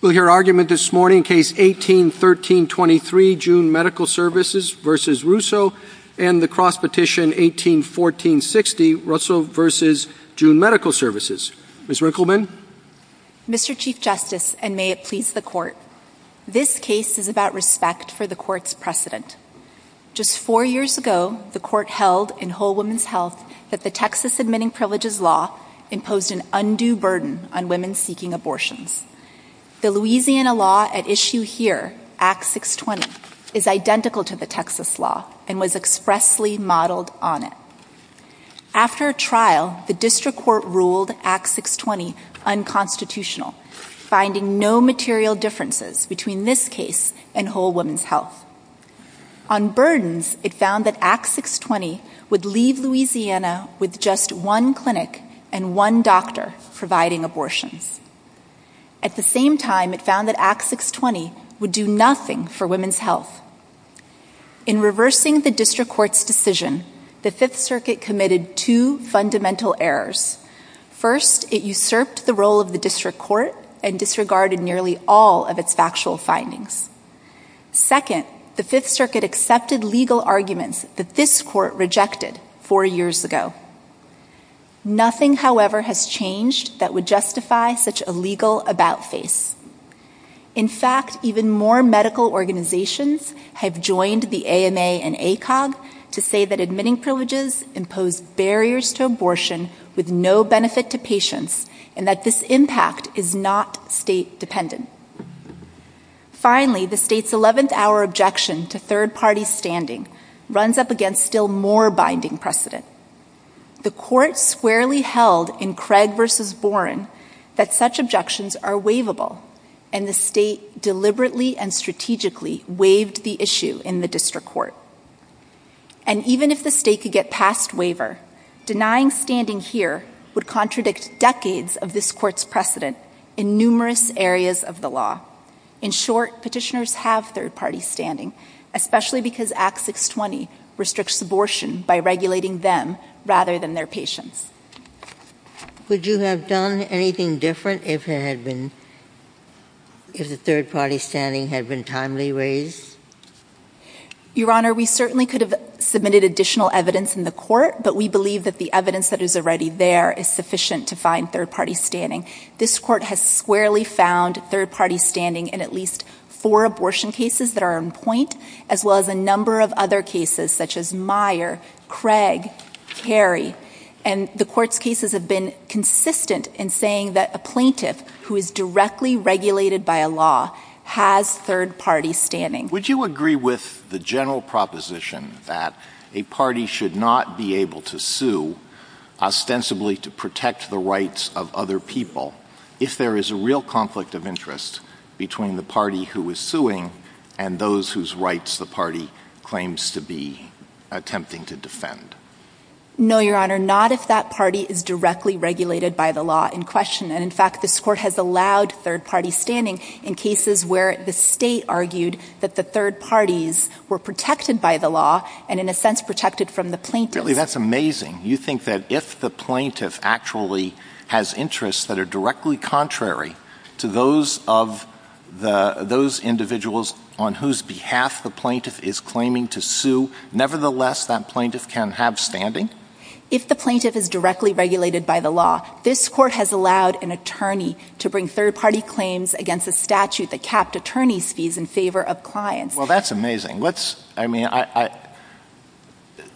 We'll hear argument this morning, Case 18-13-23, June Medical Services v. Russo, and the cross-petition, 18-14-60, Russo v. June Medical Services. Ms. Rinkleman? Mr. Chief Justice, and may it please the Court, this case is about respect for the Court's precedent. Just four years ago, the Court held, in Whole Woman's Health, that the Texas Admitting Privileges Law imposed an undue burden on women seeking abortions. The Louisiana law at issue here, Act 620, is identical to the Texas law and was expressly modeled on it. After a trial, the District Court ruled Act 620 unconstitutional, finding no material differences between this case and Whole Woman's Health. On burdens, it found that Act 620 would leave Louisiana with just one clinic and one doctor providing abortions. At the same time, it found that Act 620 would do nothing for women's health. In reversing the District Court's decision, the Fifth Circuit committed two fundamental errors. First, it usurped the role of the District Court and disregarded nearly all of its factual findings. Second, the Fifth Circuit accepted legal arguments that this Court rejected four years ago. Nothing, however, has changed that would justify such a legal about-face. In fact, even more medical organizations have joined the AMA and ACOG to say that admitting privileges impose barriers to abortion with no benefit to patients and that this impact is not state to third-party standing runs up against still more binding precedent. The Court squarely held in Craig v. Boren that such objections are waivable, and the State deliberately and strategically waived the issue in the District Court. And even if the State could get past waiver, denying standing here would contradict decades of this Court's precedent in numerous areas of law. In short, petitioners have third-party standing, especially because Act 620 restricts abortion by regulating them rather than their patients. Would you have done anything different if the third-party standing had been timely raised? Your Honor, we certainly could have submitted additional evidence in the Court, but we believe that the evidence that is already there is sufficient to find third-party standing. This Court has squarely found third-party standing in at least four abortion cases that are on point, as well as a number of other cases such as Meyer, Craig, Carey. And the Court's cases have been consistent in saying that a plaintiff who is directly regulated by a law has third-party standing. Would you agree with the general proposition that a party should not be able to sue ostensibly to protect the rights of other people if there is a real conflict of interest between the party who is suing and those whose rights the party claims to be attempting to defend? No, Your Honor, not if that party is directly regulated by the law in question. And in fact, this Court has allowed third-party standing in cases where the State argued that the third parties were protected by the law and, in a sense, protected from the plaintiff. Really, that's amazing. You think that if the plaintiff actually has interests that are directly contrary to those individuals on whose behalf the plaintiff is claiming to sue, nevertheless, that plaintiff can have standing? If the plaintiff is directly regulated by the law, this Court has allowed an attorney to bring third-party claims against a statute that capped attorneys' fees in favor of clients. Well, that's amazing. I mean,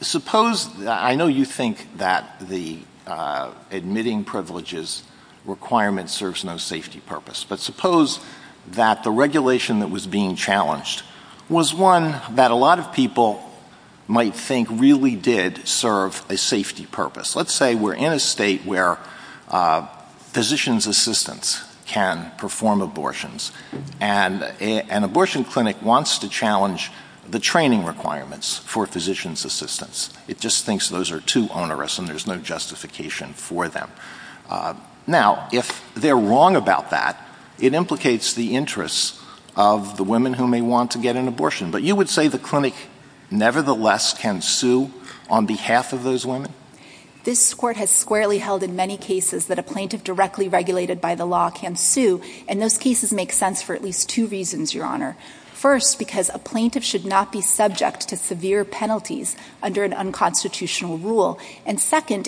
suppose — I know you think that the admitting privileges requirement serves no safety purpose, but suppose that the regulation that was being challenged was one that a lot of people might think really did serve a safety purpose. Let's say we're in a state where physicians' assistants can perform abortions, and an abortion clinic wants to challenge the training requirements for physicians' assistants. It just thinks those are too onerous and there's no justification for them. Now, if they're wrong about that, it implicates the interests of the plaintiff. And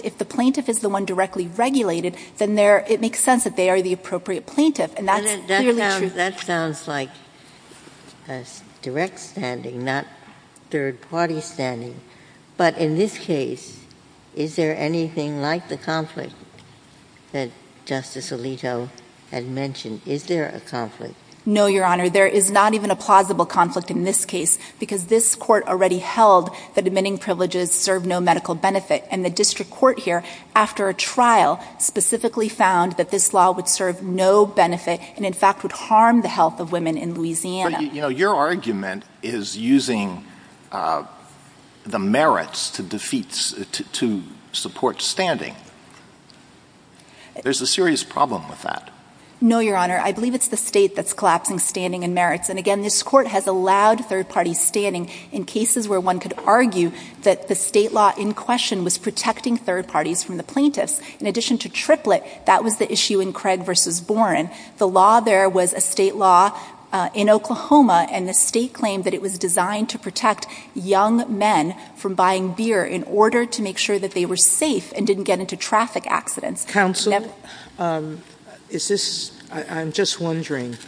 if the plaintiff is the one directly regulated, then it makes sense that they are the appropriate plaintiff. And that's clearly true. That sounds like a direct standing, not third-party standing. But in this case, is there anything like the conflict that Justice Alito had mentioned? Is there a conflict? No, Your Honor. There is not even a plausible conflict in this case, because this Court already held that admitting privileges serve no medical benefit. And the district court here, after a trial, specifically found that this law would serve no benefit and, in fact, would harm the health of women in Louisiana. But, you know, your argument is using the merits to support standing. There's a serious problem with that. No, Your Honor. I believe it's the state that's collapsing standing and merits. And again, this Court has allowed third-party standing in cases where one could argue that the state law was protecting third parties from the plaintiffs. In addition to Triplett, that was the issue in Craig v. Boren. The law there was a state law in Oklahoma, and the state claimed that it was designed to protect young men from buying beer in order to make sure that they were safe and didn't get into traffic accidents. Counsel, I'm just wondering,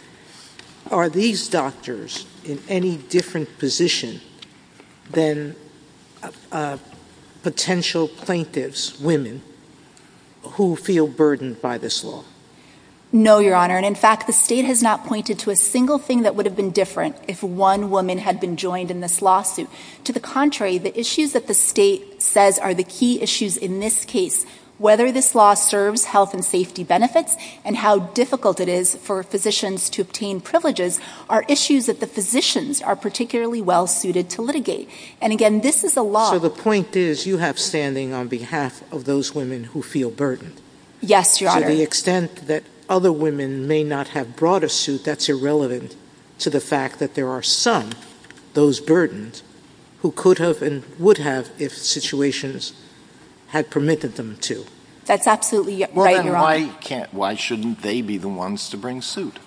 are these doctors in any different position than potential plaintiffs' women who feel burdened by this law? No, Your Honor. And, in fact, the state has not pointed to a single thing that would have been different if one woman had been joined in this lawsuit. To the contrary, the issues that the health and safety benefits and how difficult it is for physicians to obtain privileges are issues that the physicians are particularly well-suited to litigate. And again, this is a law— So the point is you have standing on behalf of those women who feel burdened. Yes, Your Honor. To the extent that other women may not have brought a suit, that's irrelevant to the fact that there are some, those burdened, who could have and would have if situations had permitted them to. That's absolutely right, Your Honor. Well, then why can't, why shouldn't they be the ones to bring suit?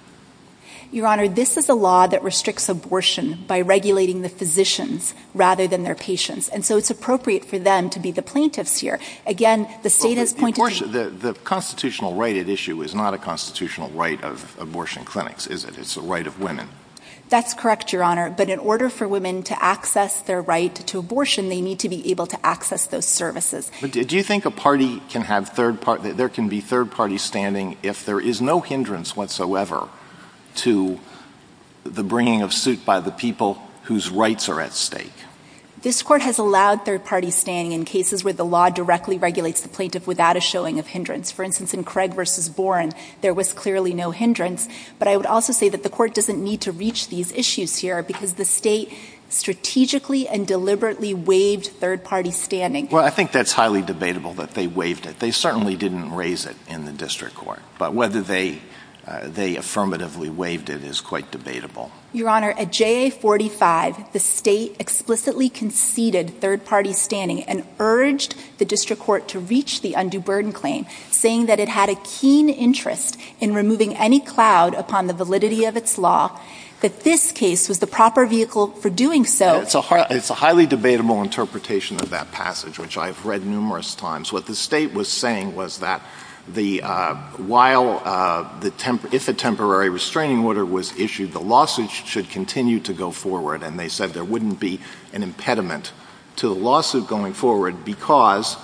Your Honor, this is a law that restricts abortion by regulating the physicians rather than their patients. And so it's appropriate for them to be the plaintiffs here. Again, the state has pointed to— The constitutional right at issue is not a constitutional right of abortion clinics, is it? It's a right of women. That's correct, Your Honor. But in order for women to access their right to abortion, they need to be able to access those services. But do you think a party can have third party, there can be third-party standing if there is no hindrance whatsoever to the bringing of suit by the people whose rights are at stake? This Court has allowed third-party standing in cases where the law directly regulates the plaintiff without a showing of hindrance. For instance, in Craig v. Boren, there was clearly no hindrance. But I would also say that the Court doesn't need to reach these issues here because the state strategically and deliberately waived third-party standing. Well, I think that's highly debatable that they waived it. They certainly didn't raise it in the district court. But whether they affirmatively waived it is quite debatable. Your Honor, at JA 45, the state explicitly conceded third-party standing and urged the district court to reach the undue burden claim, saying that it had a keen interest in removing any cloud upon the validity of its law, that this case was the proper vehicle for doing so. It's a highly debatable interpretation of that passage, which I've read numerous times. What the state was saying was that if a temporary restraining order was issued, the lawsuit should continue to go forward. And they said there wouldn't be an impediment to the lawsuit going forward because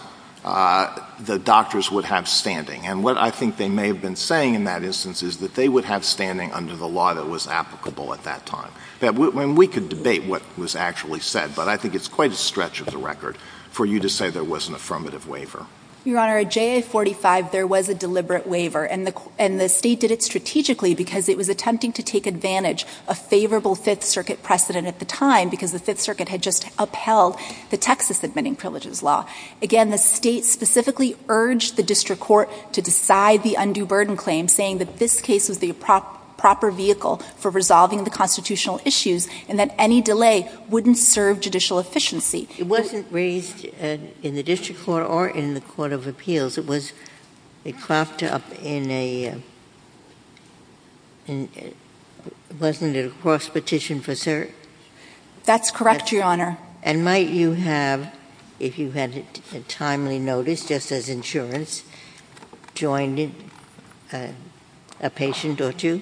the doctors would have standing. And what I think they may have been saying in that instance is that they would have standing under the law that was applicable at that time. And we could debate what was actually said, but I think it's quite a stretch of the record for you to say there was an affirmative waiver. Your Honor, at JA 45, there was a deliberate waiver. And the state did it strategically because it was attempting to take advantage of favorable Fifth Circuit precedent at the time because the Fifth Circuit had just upheld the Texas admitting privileges law. Again, the state specifically urged the district court to decide the undue burden claim, saying that this case was the proper vehicle for resolving the constitutional issues and that any delay wouldn't serve judicial efficiency. It wasn't raised in the district court or in the Court of Appeals. It was a craft up in a and wasn't it a cross petition for cert? That's correct, Your Honor. And might you have, if you had a timely notice just as insurance, joined in a patient or two?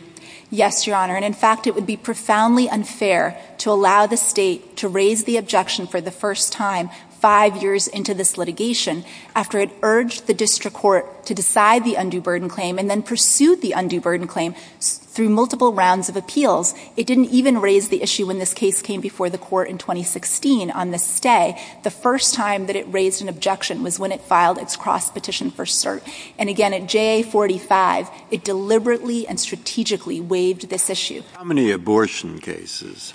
Yes, Your Honor. And fact, it would be profoundly unfair to allow the state to raise the objection for the first time five years into this litigation after it urged the district court to decide the undue burden claim and then pursued the undue burden claim through multiple rounds of appeals. It didn't even raise the issue when this case came before the court in 2016 on the stay. The first time that it raised an objection was when it filed its cross petition for cert. And again, at JA 45, it deliberately and strategically waived this issue. How many abortion cases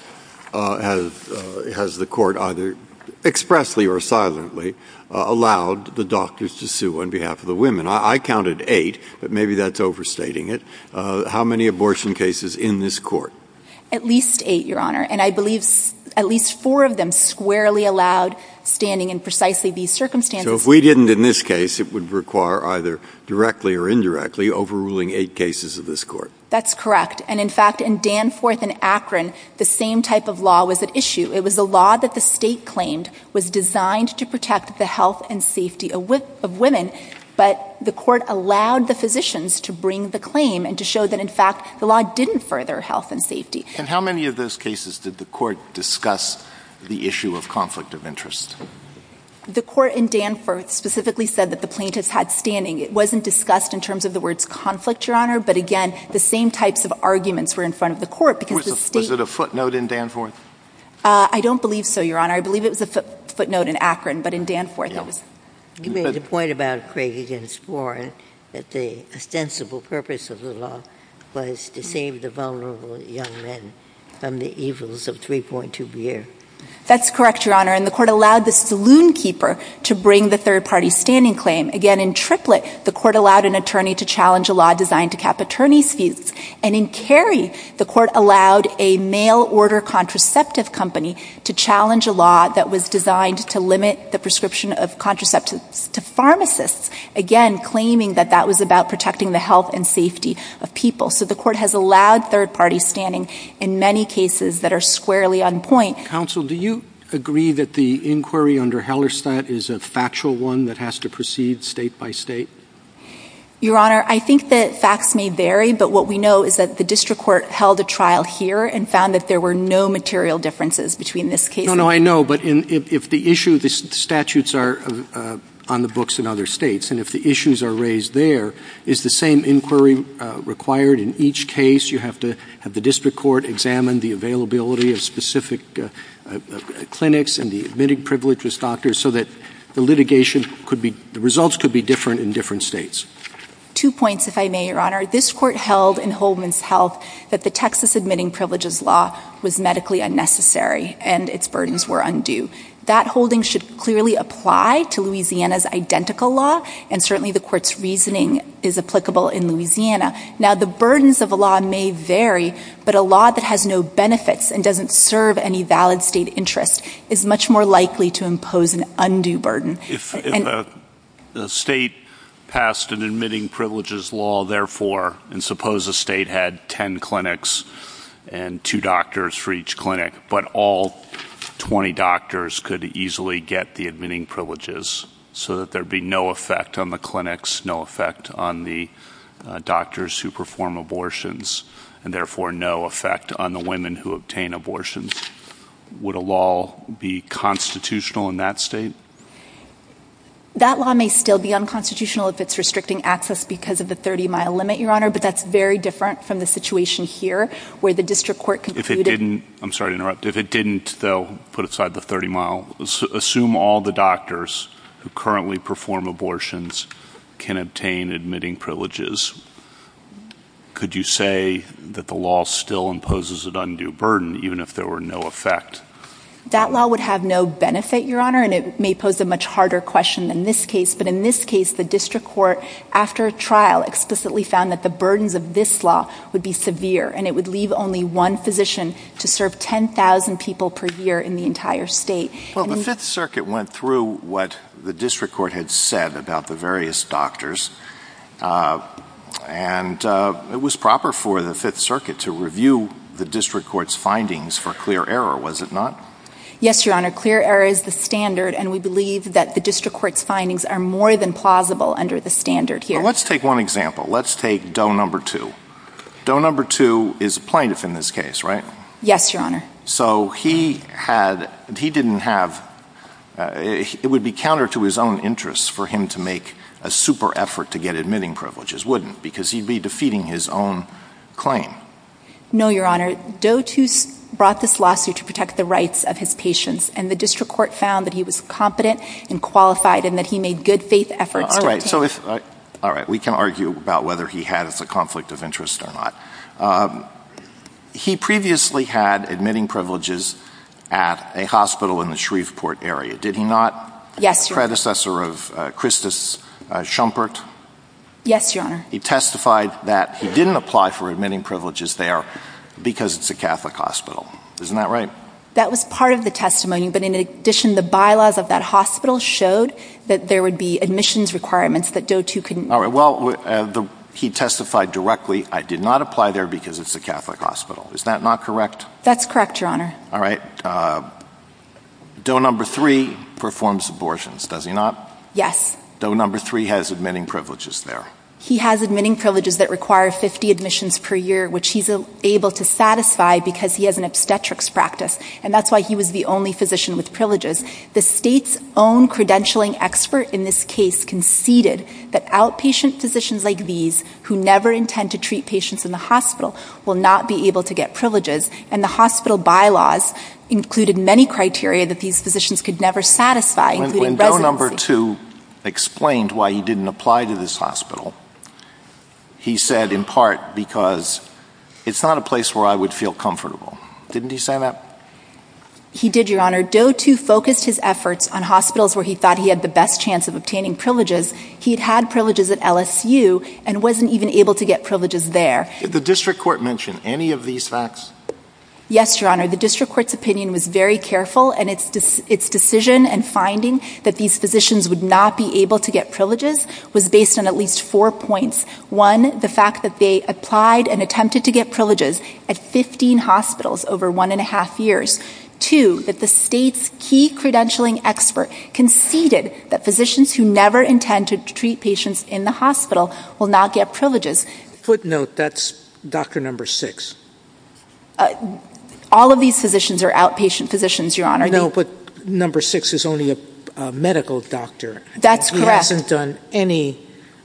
has the court either expressly or silently allowed the doctors to sue on behalf of the women? I counted eight, but maybe that's overstating it. How many abortion cases in this court? At least eight, Your Honor. And I believe at least four of them squarely allowed standing in precisely these circumstances. So if we didn't in this case, it would require either directly or indirectly overruling eight cases of this court. That's correct. And in fact, in Danforth and Akron, the same type of law was at issue. It was a law that the state claimed was designed to protect the health and safety of women, but the court allowed the physicians to bring the claim and to show that in fact, the law didn't further health and safety. And how many of those cases did the court discuss the issue of conflict of interest? The court in Danforth specifically said that the plaintiffs had standing. It wasn't discussed in terms of the words conflict, Your Honor. But again, the same types of arguments were in front of the court because the state- Was it a footnote in Danforth? I don't believe so, Your Honor. I believe it was a footnote in Akron, but in Danforth it was- You made a point about Craig against Warren that the ostensible purpose of the law was to save the vulnerable young men from the evils of 3.2 BR. That's correct, Your Honor. And the court allowed the saloon keeper to bring the third-party standing claim. Again, in Triplett, the court allowed an attorney to challenge a law designed to cap attorneys' fees. And in Cary, the court allowed a mail order contraceptive company to challenge a law that was designed to limit the prescription of contraceptives to pharmacists. Again, claiming that that was about protecting the health and safety of people. So the court has allowed third parties standing in many cases that are squarely on point. Counsel, do you agree that the inquiry under Hellerstadt is a factual one that has to proceed state by state? Your Honor, I think that facts may vary, but what we know is that the district court held a trial here and found that there were no material differences between this case- No, no, I know. But if the issue, the statutes are on the books in other states. And if the issues are raised there, is the same inquiry required in each case? You have to have the district court examine the availability of specific clinics and the admitting privileged doctors so that the litigation could be, the results could be different in different states. Two points, if I may, Your Honor. This court held in Holdman's Health that the Texas admitting privileges law was medically unnecessary and its burdens were undue. That holding should clearly apply to Louisiana's identical law. And certainly the court's reasoning is applicable in Louisiana. Now the burdens of a law may vary, but a law that has no benefits and doesn't serve any valid state interest is much more likely to impose an undue burden. If a state passed an admitting privileges law, therefore, and suppose a state had 10 clinics and two doctors for each clinic, but all 20 doctors could easily get the admitting privileges so that there'd be no effect on the clinics, no effect on the doctors who perform abortions, and therefore, no effect on the women who obtain abortions. Would a law be constitutional in that state? That law may still be unconstitutional if it's restricting access because of the 30 mile limit, Your Honor. But that's very different from the situation here where the district court concluded- If it didn't, I'm sorry to interrupt. If it didn't, though, put aside the 30 mile, assume all the doctors who currently perform abortions can obtain admitting privileges. Could you say that the law still imposes an undue burden even if there were no effect? That law would have no benefit, Your Honor, and it may pose a much harder question than this case. But in this case, the district court, after a trial, explicitly found that the burdens of this law would be severe, and it would leave only one physician to serve 10,000 people per year in the entire state. Well, the Fifth Circuit went through what the district court had said about the various doctors, and it was proper for the Fifth Circuit to review the district court's findings for clear error, was it not? Yes, Your Honor. Clear error is the standard, and we believe that the district court's findings are more than plausible under the standard here. Let's take one example. Let's take Doe Number Two. Doe Number Two is a plaintiff in this case, right? Yes, Your Honor. So he had, he didn't have, it would be counter to his own interests for him to make a super effort to get admitting privileges, wouldn't it? Because he'd be defeating his own claim. No, Your Honor. Doe Two brought this lawsuit to protect the rights of his patients, and the district court found that he was competent and qualified, and that he made good faith efforts. All right, so if, all right, we can argue about whether he had a conflict of interest or not. He previously had admitting privileges at a hospital in the Shreveport area, did he not? Yes, Your Honor. The predecessor of Christus Schumpert? Yes, Your Honor. He testified that he didn't apply for admitting privileges there because it's a Catholic hospital, isn't that right? That was part of the testimony, but in addition, the bylaws of that hospital showed that there would be admissions requirements that Doe Two couldn't meet. All right, well, he testified directly, I did not apply there because it's a Catholic hospital, is that not correct? That's correct, Your Honor. All right, Doe Number Three performs abortions, does he not? Yes. Doe Number Three has admitting privileges there. He has admitting privileges that require 50 admissions per year, which he's able to satisfy because he has an obstetrics practice, and that's why he was the only physician with privileges. The state's own credentialing expert in this case conceded that outpatient physicians like these who never intend to treat patients in the hospital will not be able to get privileges, and the hospital bylaws included many criteria that these physicians could never satisfy, including residency. When Doe Number Two explained why he didn't apply to this hospital, he said in part because it's not a place where I would feel comfortable. Didn't he say that? He did, Your Honor. Doe Two focused his efforts on hospitals where he thought he had the best chance of obtaining privileges. He had had privileges at LSU and wasn't even able to get privileges there. Did the district court mention any of these facts? Yes, Your Honor. The district court's opinion was very careful, and its decision and finding that these physicians would not be able to get privileges was based on at least four points. One, the fact that they applied and attempted to get privileges at 15 hospitals over one and a half years. Two, that the state's key credentialing expert conceded that physicians who never intend to treat patients in the hospital will not get privileges. Footnote, that's Dr. Number Six. All of these physicians are outpatient physicians, Your Honor. No, but Number Six is only a medical doctor. That's correct. He hasn't done any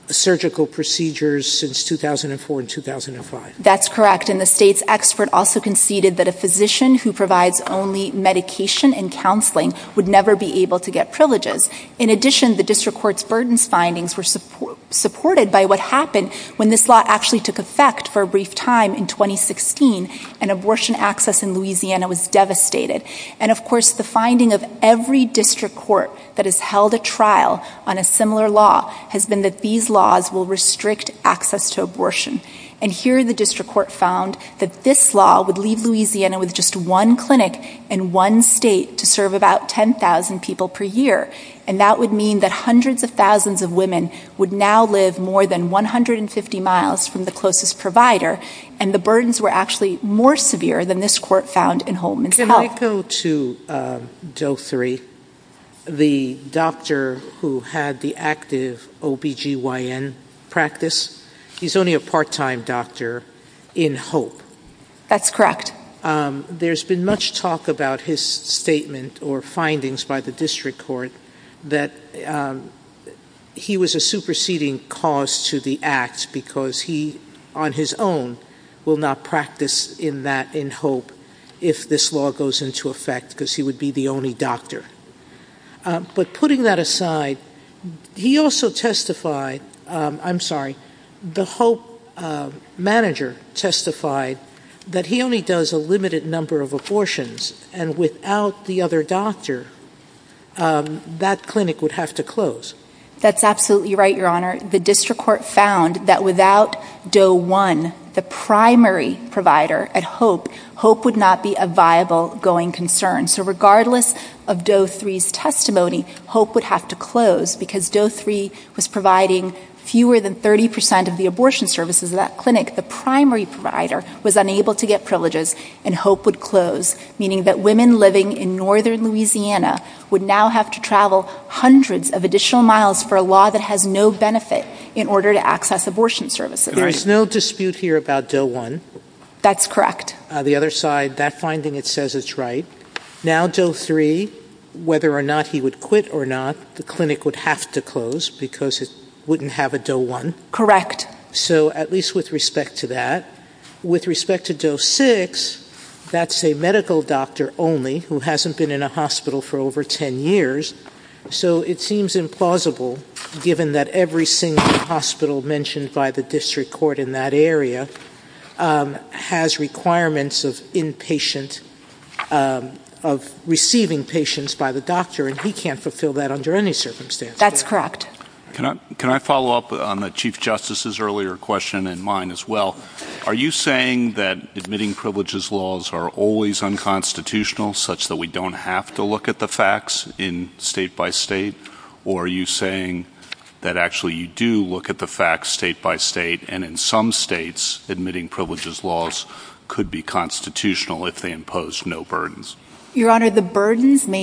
surgical procedures since 2004 and 2005. That's correct, and the state's expert also conceded that a physician who provides only medication and counseling would never be able to get privileges. In addition, the district court's burdens findings were supported by what happened when this law actually took effect for a brief time in 2016, and abortion access in Louisiana was devastated. Of course, the finding of every district court that has held a trial on a similar law has been that these laws will restrict access to abortion, and here the district court found that this law would leave Louisiana with just one clinic in one state to serve about 10,000 people per year, and that would mean that hundreds of thousands of women would now live more than 150 miles from the closest provider, and the burdens were actually more severe than this court found in Holman's Health. Can I go to Doe Three, the part-time doctor in Hope? That's correct. There's been much talk about his statement or findings by the district court that he was a superseding cause to the act because he, on his own, will not practice in that in Hope if this law goes into effect because he would be the only doctor, but putting that aside, he also testified, I'm sorry, the Hope manager testified that he only does a limited number of abortions, and without the other doctor, that clinic would have to close. That's absolutely right, your honor. The district court found that without Doe One, the primary testimony, Hope would have to close because Doe Three was providing fewer than 30% of the abortion services in that clinic. The primary provider was unable to get privileges, and Hope would close, meaning that women living in northern Louisiana would now have to travel hundreds of additional miles for a law that has no benefit in order to access abortion services. There is no dispute here about Doe One. That's correct. The other side, that finding, it says it's right. Now Doe Three, whether or not he would quit or not, the clinic would have to close because it wouldn't have a Doe One. Correct. So at least with respect to that, with respect to Doe Six, that's a medical doctor only who hasn't been in a hospital for over 10 years, so it seems implausible given that every single hospital mentioned by the district court in that doctor, and he can't fulfill that under any circumstance. That's correct. Can I follow up on the Chief Justice's earlier question and mine as well? Are you saying that admitting privileges laws are always unconstitutional, such that we don't have to look at the facts in state by state? Or are you saying that actually you do look at the facts state by state, and in some states, admitting privileges laws could be constitutional if they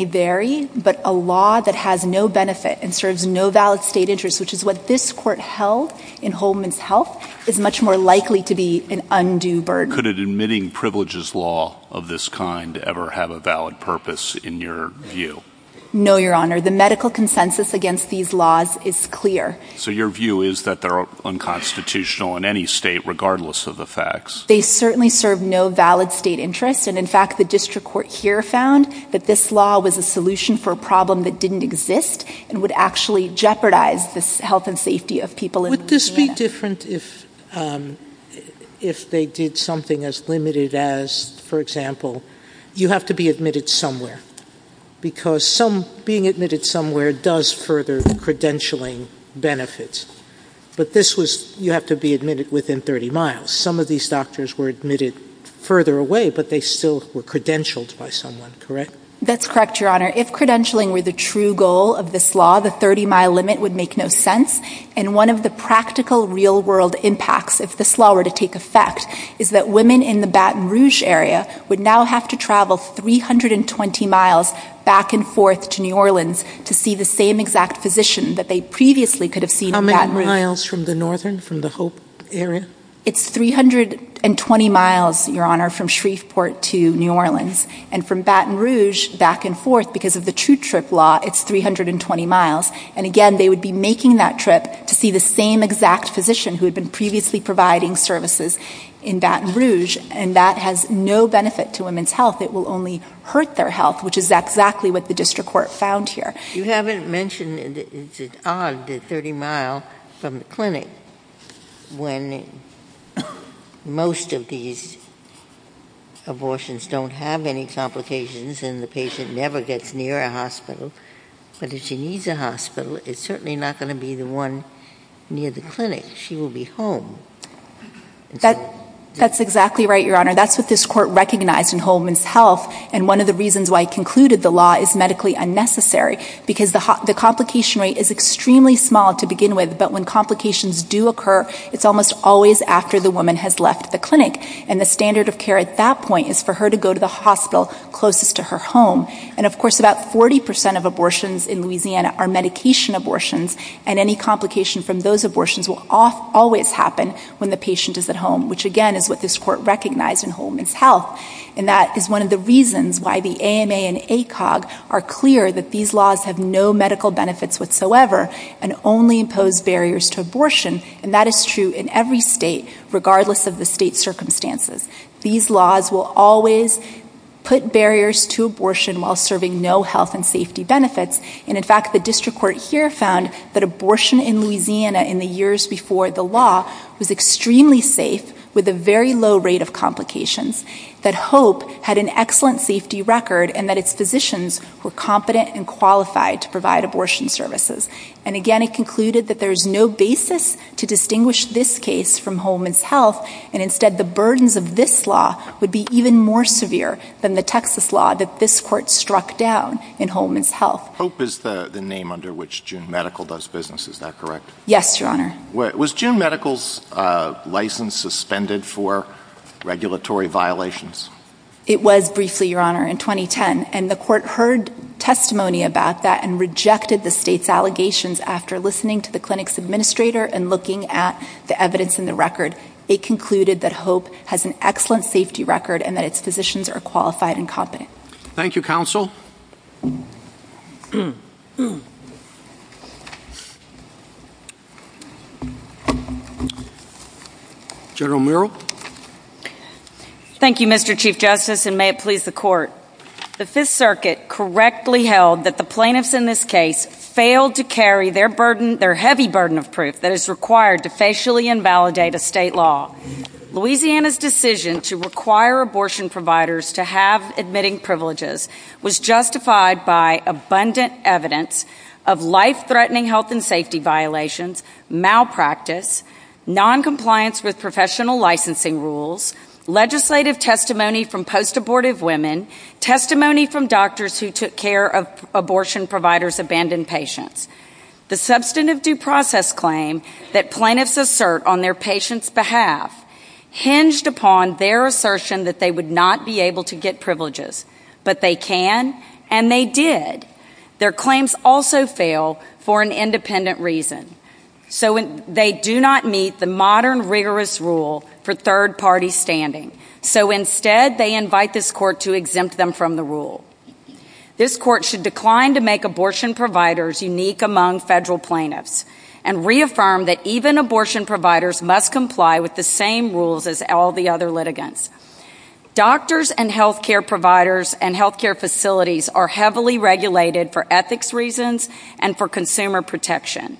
vary, but a law that has no benefit and serves no valid state interest, which is what this court held in Holman's Health, is much more likely to be an undue burden. Could an admitting privileges law of this kind ever have a valid purpose in your view? No, Your Honor. The medical consensus against these laws is clear. So your view is that they're unconstitutional in any state, regardless of the facts? They certainly serve no valid state interest, and in fact, the district court here found that this law was a solution for a problem that didn't exist and would actually jeopardize the health and safety of people. Would this be different if they did something as limited as, for example, you have to be admitted somewhere, because being admitted somewhere does further credentialing benefits. But this was, you have to be admitted within 30 miles. Some of these doctors were admitted further away, but they still were credentialed by someone, correct? That's correct, Your Honor. If credentialing were the true goal of this law, the 30 mile limit would make no sense. And one of the practical real world impacts, if this law were to take effect, is that women in the Baton Rouge area would now have to travel 320 miles back and forth to New Orleans to see the same exact physician that they previously could have seen in Baton Rouge. How many miles from the northern, from the Hope area? It's 320 miles, Your Honor, from Shreveport to New Orleans. And from Baton Rouge back and forth, because of the true trip law, it's 320 miles. And again, they would be making that trip to see the same exact physician who had been previously providing services in Baton Rouge, and that has no benefit to women's health. It will only hurt their health, which is exactly what the district court found here. You haven't mentioned it's an odd 30 miles from the clinic when most of these abortions don't have any complications, and the patient never gets near a hospital. But if she needs a hospital, it's certainly not going to be the one near the clinic. She will be home. That's exactly right, Your Honor. That's what this court recognized in women's health. And one of the reasons why it concluded the law is medically unnecessary, because the complication rate is extremely small to begin with, but when complications do occur, it's almost always after the woman has left the clinic. And the standard of care at that point is for her to go to the hospital closest to her home. And of course, about 40% of abortions in Louisiana are medication abortions, and any complication from those abortions will always happen when the patient is at home, which again is what this court recognized in women's health. And that is one of the reasons why the AMA and ACOG are clear that these laws have no medical benefits whatsoever and only impose barriers to abortion. And that is true in every state, regardless of the state circumstances. These laws will always put barriers to abortion while serving no health and safety benefits. And in fact, the district court here found that abortion in Louisiana in the years before the law was extremely safe with a very low rate of complications, that HOPE had an excellent safety record, and that its physicians were competent and qualified to provide abortion services. And again, it concluded that there is no basis to distinguish this case from Holman's Health, and instead the burdens of this law would be even more severe than the Texas law that this court struck down in Holman's Health. HOPE is the name under which June Medical does business, is that correct? Yes, Your Honor. Was June Medical's license suspended for regulatory violations? It was briefly, Your Honor, in 2010. And the court heard testimony about that and rejected the state's allegations after listening to the clinic's administrator and looking at the evidence in the record. It concluded that HOPE has an excellent safety record and that its physicians are qualified and competent. Thank you, counsel. General Murrell. Thank you, Mr. Chief Justice, and may it please the court. The Fifth Circuit correctly held that the plaintiffs in this case failed to carry their burden, their heavy burden of proof that is required to facially invalidate a state law. Louisiana's decision to require abortion providers to have admitting privileges was justified by abundant evidence of life-threatening health and safety violations, malpractice, noncompliance with professional licensing rules, legislative testimony from post-abortive women, testimony from doctors who took care of abortion providers' abandoned patients. The substantive due process claim that plaintiffs assert on their patients' behalf hinged upon their assertion that they would not be able to get privileges. But they can, and they did. Their claims also fail for an independent reason. So they do not meet the modern rigorous rule for third-party standing. So instead, they invite this court to exempt them from the rule. This court should decline to make abortion providers unique among federal plaintiffs and reaffirm that even abortion providers must comply with the same rules as all the other litigants. Doctors and health care providers and health care facilities are heavily regulated for ethics reasons and for consumer protection.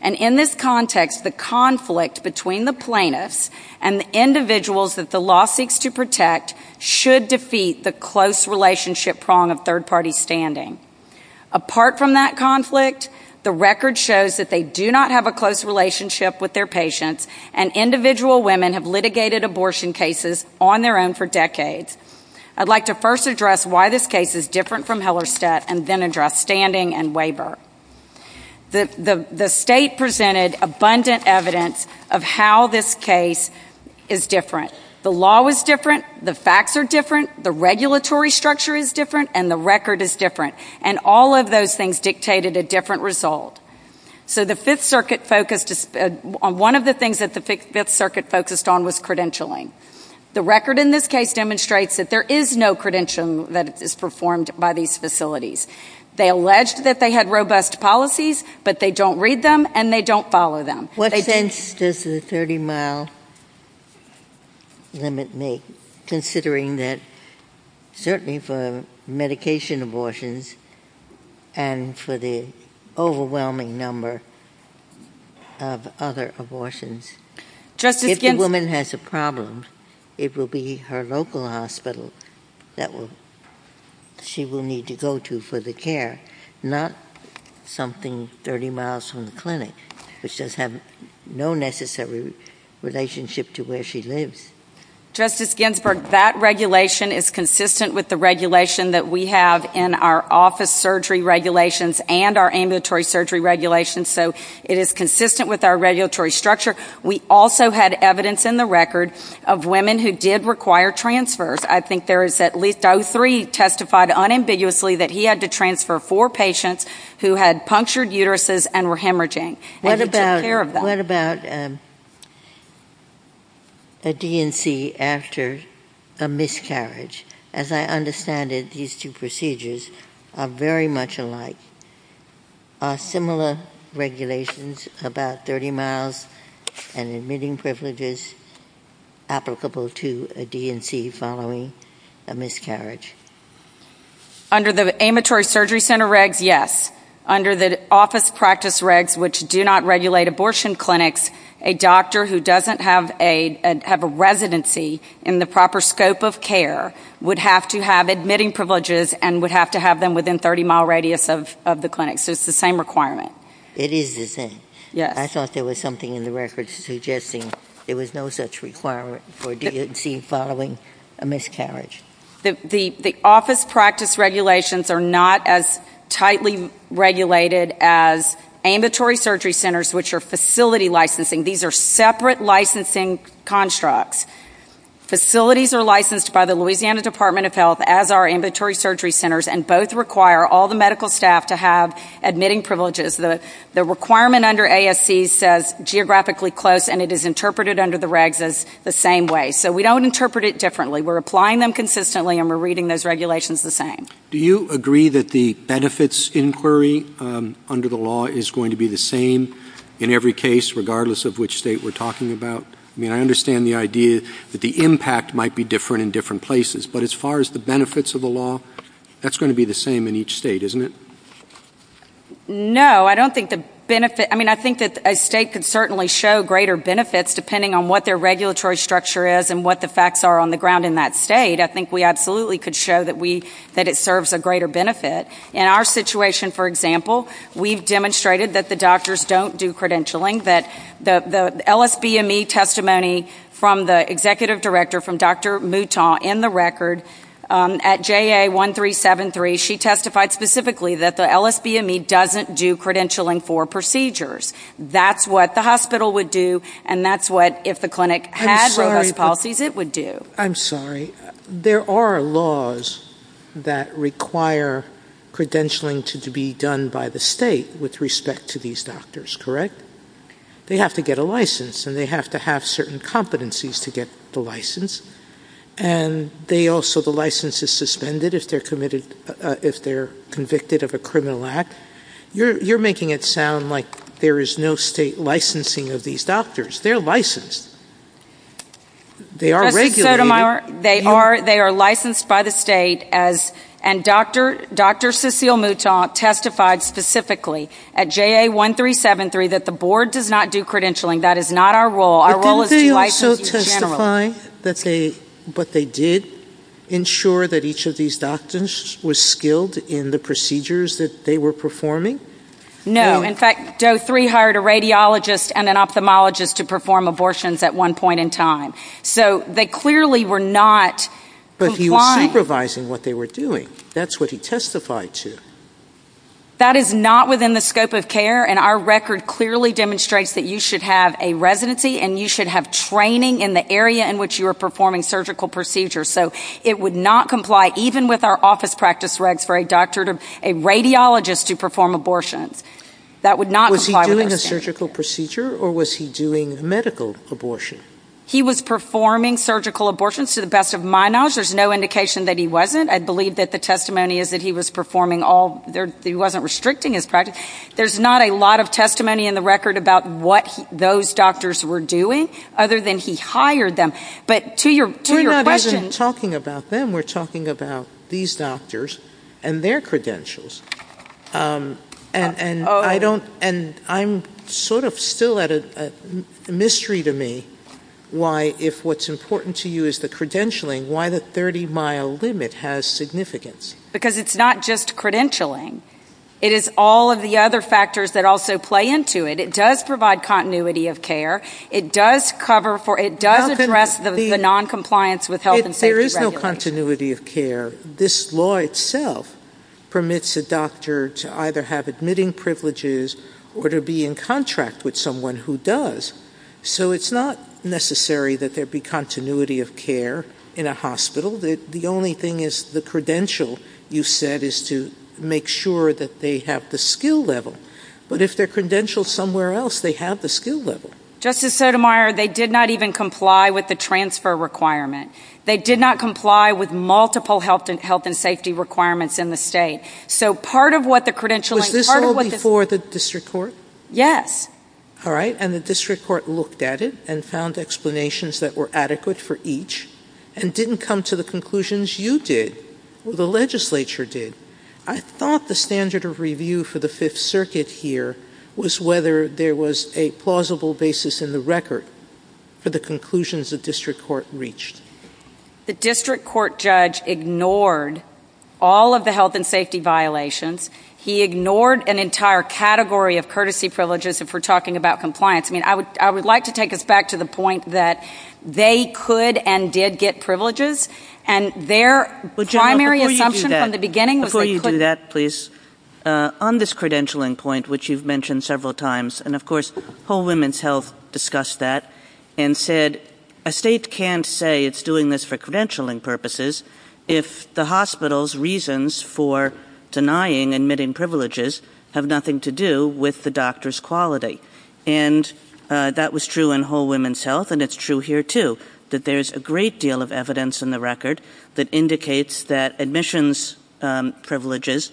And in this context, the conflict between the plaintiffs and the individuals that the law seeks to protect should defeat the close relationship prong of third-party standing. Apart from that conflict, the record shows that they do not have a close relationship with their patients, and individual women have litigated abortion cases on their own for decades. I'd like to first address why this case is different from Hellerstedt and then address standing and waiver. The state presented abundant evidence of how this case is different. The law was different, the facts are different, the regulatory structure is different, and the record is different. And all of those things dictated a different result. So the Fifth Circuit focused on one of the things that the Fifth Circuit focused on was credentialing. The record in this case demonstrates that there is no credentialing that is performed by these facilities. They alleged that they had robust policies, but they don't read them and they don't follow them. What sense does the 30-mile limit make, considering that certainly for medication abortions and for the overwhelming number of other abortions? If the woman has a problem, it will be her local hospital that she will need to go to for the care, not something 30 miles from the clinic, which does have no necessary relationship to where she lives. Justice regulations and our ambulatory surgery regulations, so it is consistent with our regulatory structure. We also had evidence in the record of women who did require transfers. I think there is at least 03 testified unambiguously that he had to transfer four patients who had punctured uteruses and were hemorrhaging. And he took care of them. What about a DNC after a miscarriage? As I understand it, these two procedures are very much alike. Are similar regulations about 30 miles and admitting privileges applicable to a DNC following a miscarriage? Under the ambulatory surgery center regs, yes. Under the office practice regs, which do not regulate abortion clinics, a doctor who doesn't have a residency in the proper scope of care would have to have admitting privileges and would have to have them within 30 mile radius of the clinic. So it's the same requirement. It is the same. I thought there was something in the record suggesting there was no such requirement for a DNC following a miscarriage. The office practice regulations are not as tightly regulated as ambulatory surgery centers, which are facility licensing. These are separate licensing constructs. Facilities are licensed by the Louisiana Department of Health as our ambulatory surgery centers, and both require all the medical staff to have admitting privileges. The requirement under ASC says geographically close, and it is interpreted under the regs as the same way. So we don't interpret it differently. We're applying them consistently and we're reading those regulations the same. Do you agree that the benefits inquiry under the law is going to be the same in every case, regardless of which state we're talking about? I mean, I understand the idea that the impact might be different in different places, but as far as the benefits of the law, that's going to be the same in each state, isn't it? No, I don't think the benefit ‑‑ I mean, I think that a state could certainly show greater benefits depending on what their regulatory structure is and what the facts are on the ground in that state. I think we absolutely could show that it serves a greater benefit. In our situation, for example, we've demonstrated that the doctors don't do credentialing, that the LSBME testimony from the executive director, from Dr. Mouton, in the record, at JA1373, she testified specifically that the LSBME doesn't do credentialing for procedures. That's what the hospital would do, and that's what, if the clinic had robust policies, it would do. I'm sorry, there are laws that require credentialing to be done by the state with respect to these doctors, correct? They have to get a license, and they have to have certain competencies to get the license, and they also ‑‑ the license is suspended if they're committed ‑‑ if they're convicted of a criminal act. You're making it sound like there is no state licensing of these doctors. They're licensed. They are regulated. They are licensed by the state, and Dr. Cecile Mouton testified specifically at JA1373 that the board does not do credentialing. That is not our role. But didn't they also testify that they ‑‑ but they did ensure that each of these doctors was skilled in the procedures that they were performing? No. In fact, Doe 3 hired a radiologist and an ophthalmologist to perform abortions at one point in time. So they clearly were not ‑‑ But he was supervising what they were doing. That's what he testified to. That is not within the scope of care, and our record clearly demonstrates that you should have a residency and you should have training in the area in which you are performing surgical procedures. So it would not comply, even with our office practice regs, for a doctor to ‑‑ a radiologist to perform abortions. That would not comply with our standards. Was he doing a surgical procedure, or was he doing medical abortion? He was performing surgical abortions, to the best of my knowledge. There's no indication that he wasn't. I believe that the testimony is that he was performing all ‑‑ he wasn't restricting his practice. There's not a lot of testimony in the record about what those doctors were doing, other than he hired them. But to your question ‑‑ We're not even talking about them. We're talking about these doctors and their credentials. And I don't ‑‑ and I'm sort of still at a mystery to me why, if what's important to you is the credentialing, why the 30‑mile limit has significance. Because it's not just credentialing. It is all of the other factors that also play into it. It does provide continuity of care. It does cover for ‑‑ it does address the noncompliance with health and safety regulations. There is no continuity of care. This law itself permits a doctor to either have admitting privileges or to be in contract with in a hospital. The only thing is the credential, you said, is to make sure that they have the skill level. But if their credential is somewhere else, they have the skill level. Justice Sotomayor, they did not even comply with the transfer requirement. They did not comply with multiple health and safety requirements in the state. So part of what the credentialing ‑‑ Was this all before the district court? Yes. All right. And the district court looked at it and found explanations that were adequate for each and didn't come to the conclusions you did or the legislature did. I thought the standard of review for the Fifth Circuit here was whether there was a plausible basis in the record for the conclusions the district court reached. The district court judge ignored all of the health and safety violations. He ignored an entire category of courtesy privileges if we're talking about compliance. I would like to take us back to the point that they could and did get privileges. And their primary assumption from the beginning ‑‑ Before you do that, please, on this credentialing point, which you've mentioned several times, and of course Whole Women's Health discussed that and said a state can't say it's doing this for credentialing purposes if the hospital's reasons for denying admitting privileges have nothing to do with the doctor's quality. And that was true in Whole Women's Health, and it's true here, too, that there's a great deal of evidence in the record that indicates that admissions privileges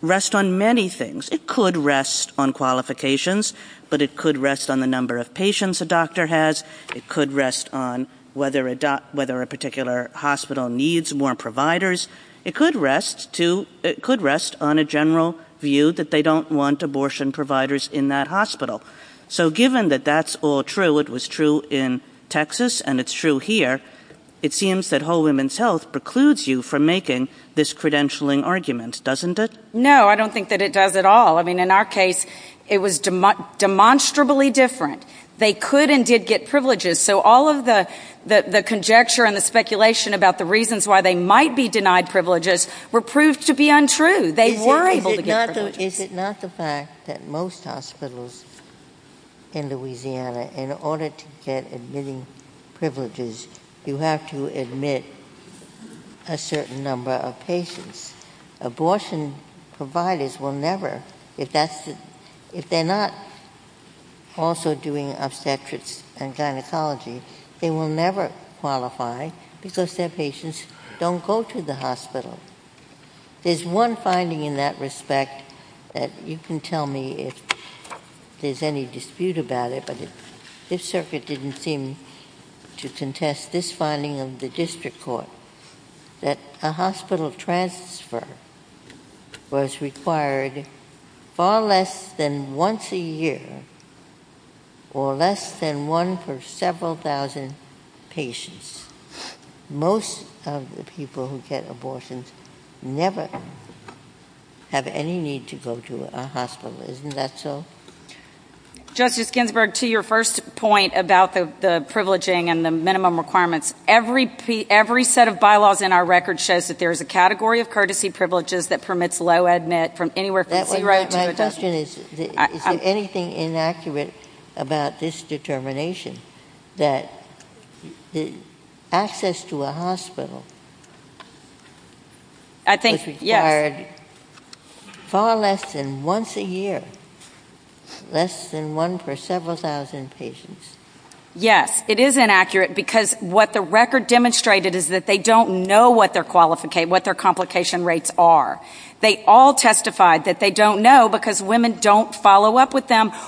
rest on many things. It could rest on qualifications, but it could rest on the number of patients a doctor has. It could rest on whether a particular hospital needs more providers. It could rest on a general view that they don't want abortion providers in that hospital. So given that that's all true, it was true in Texas, and it's true here, it seems that Whole Women's Health precludes you from making this credentialing argument, doesn't it? No, I don't think that it does at all. In our case, it was demonstrably different. They could and did get privileges, so all of the conjecture and the speculation about the reasons why they might be denied privileges were proved to be untrue. They were able to get privileges. Is it not the fact that most hospitals in Louisiana, in order to get admitting privileges, you have to admit a certain number of patients? Abortion providers will never, if they're not also doing obstetrics and gynecology, they will never qualify because their patients don't go to the hospital. There's one finding in that respect that you can tell me if there's any dispute about it, but this circuit didn't seem to contest this finding of the year, or less than one for several thousand patients. Most of the people who get abortions never have any need to go to a hospital. Isn't that so? Justice Ginsburg, to your first point about the privileging and the minimum requirements, every set of bylaws in our record shows that there is a category of courtesy privileges that permits low admit from anywhere from zero to one. Is there anything inaccurate about this determination that access to a hospital was required far less than once a year, less than one for several thousand patients? Yes, it is inaccurate because what the record demonstrated is that they don't know what their complication rates are. They all testified that they don't know because women don't follow up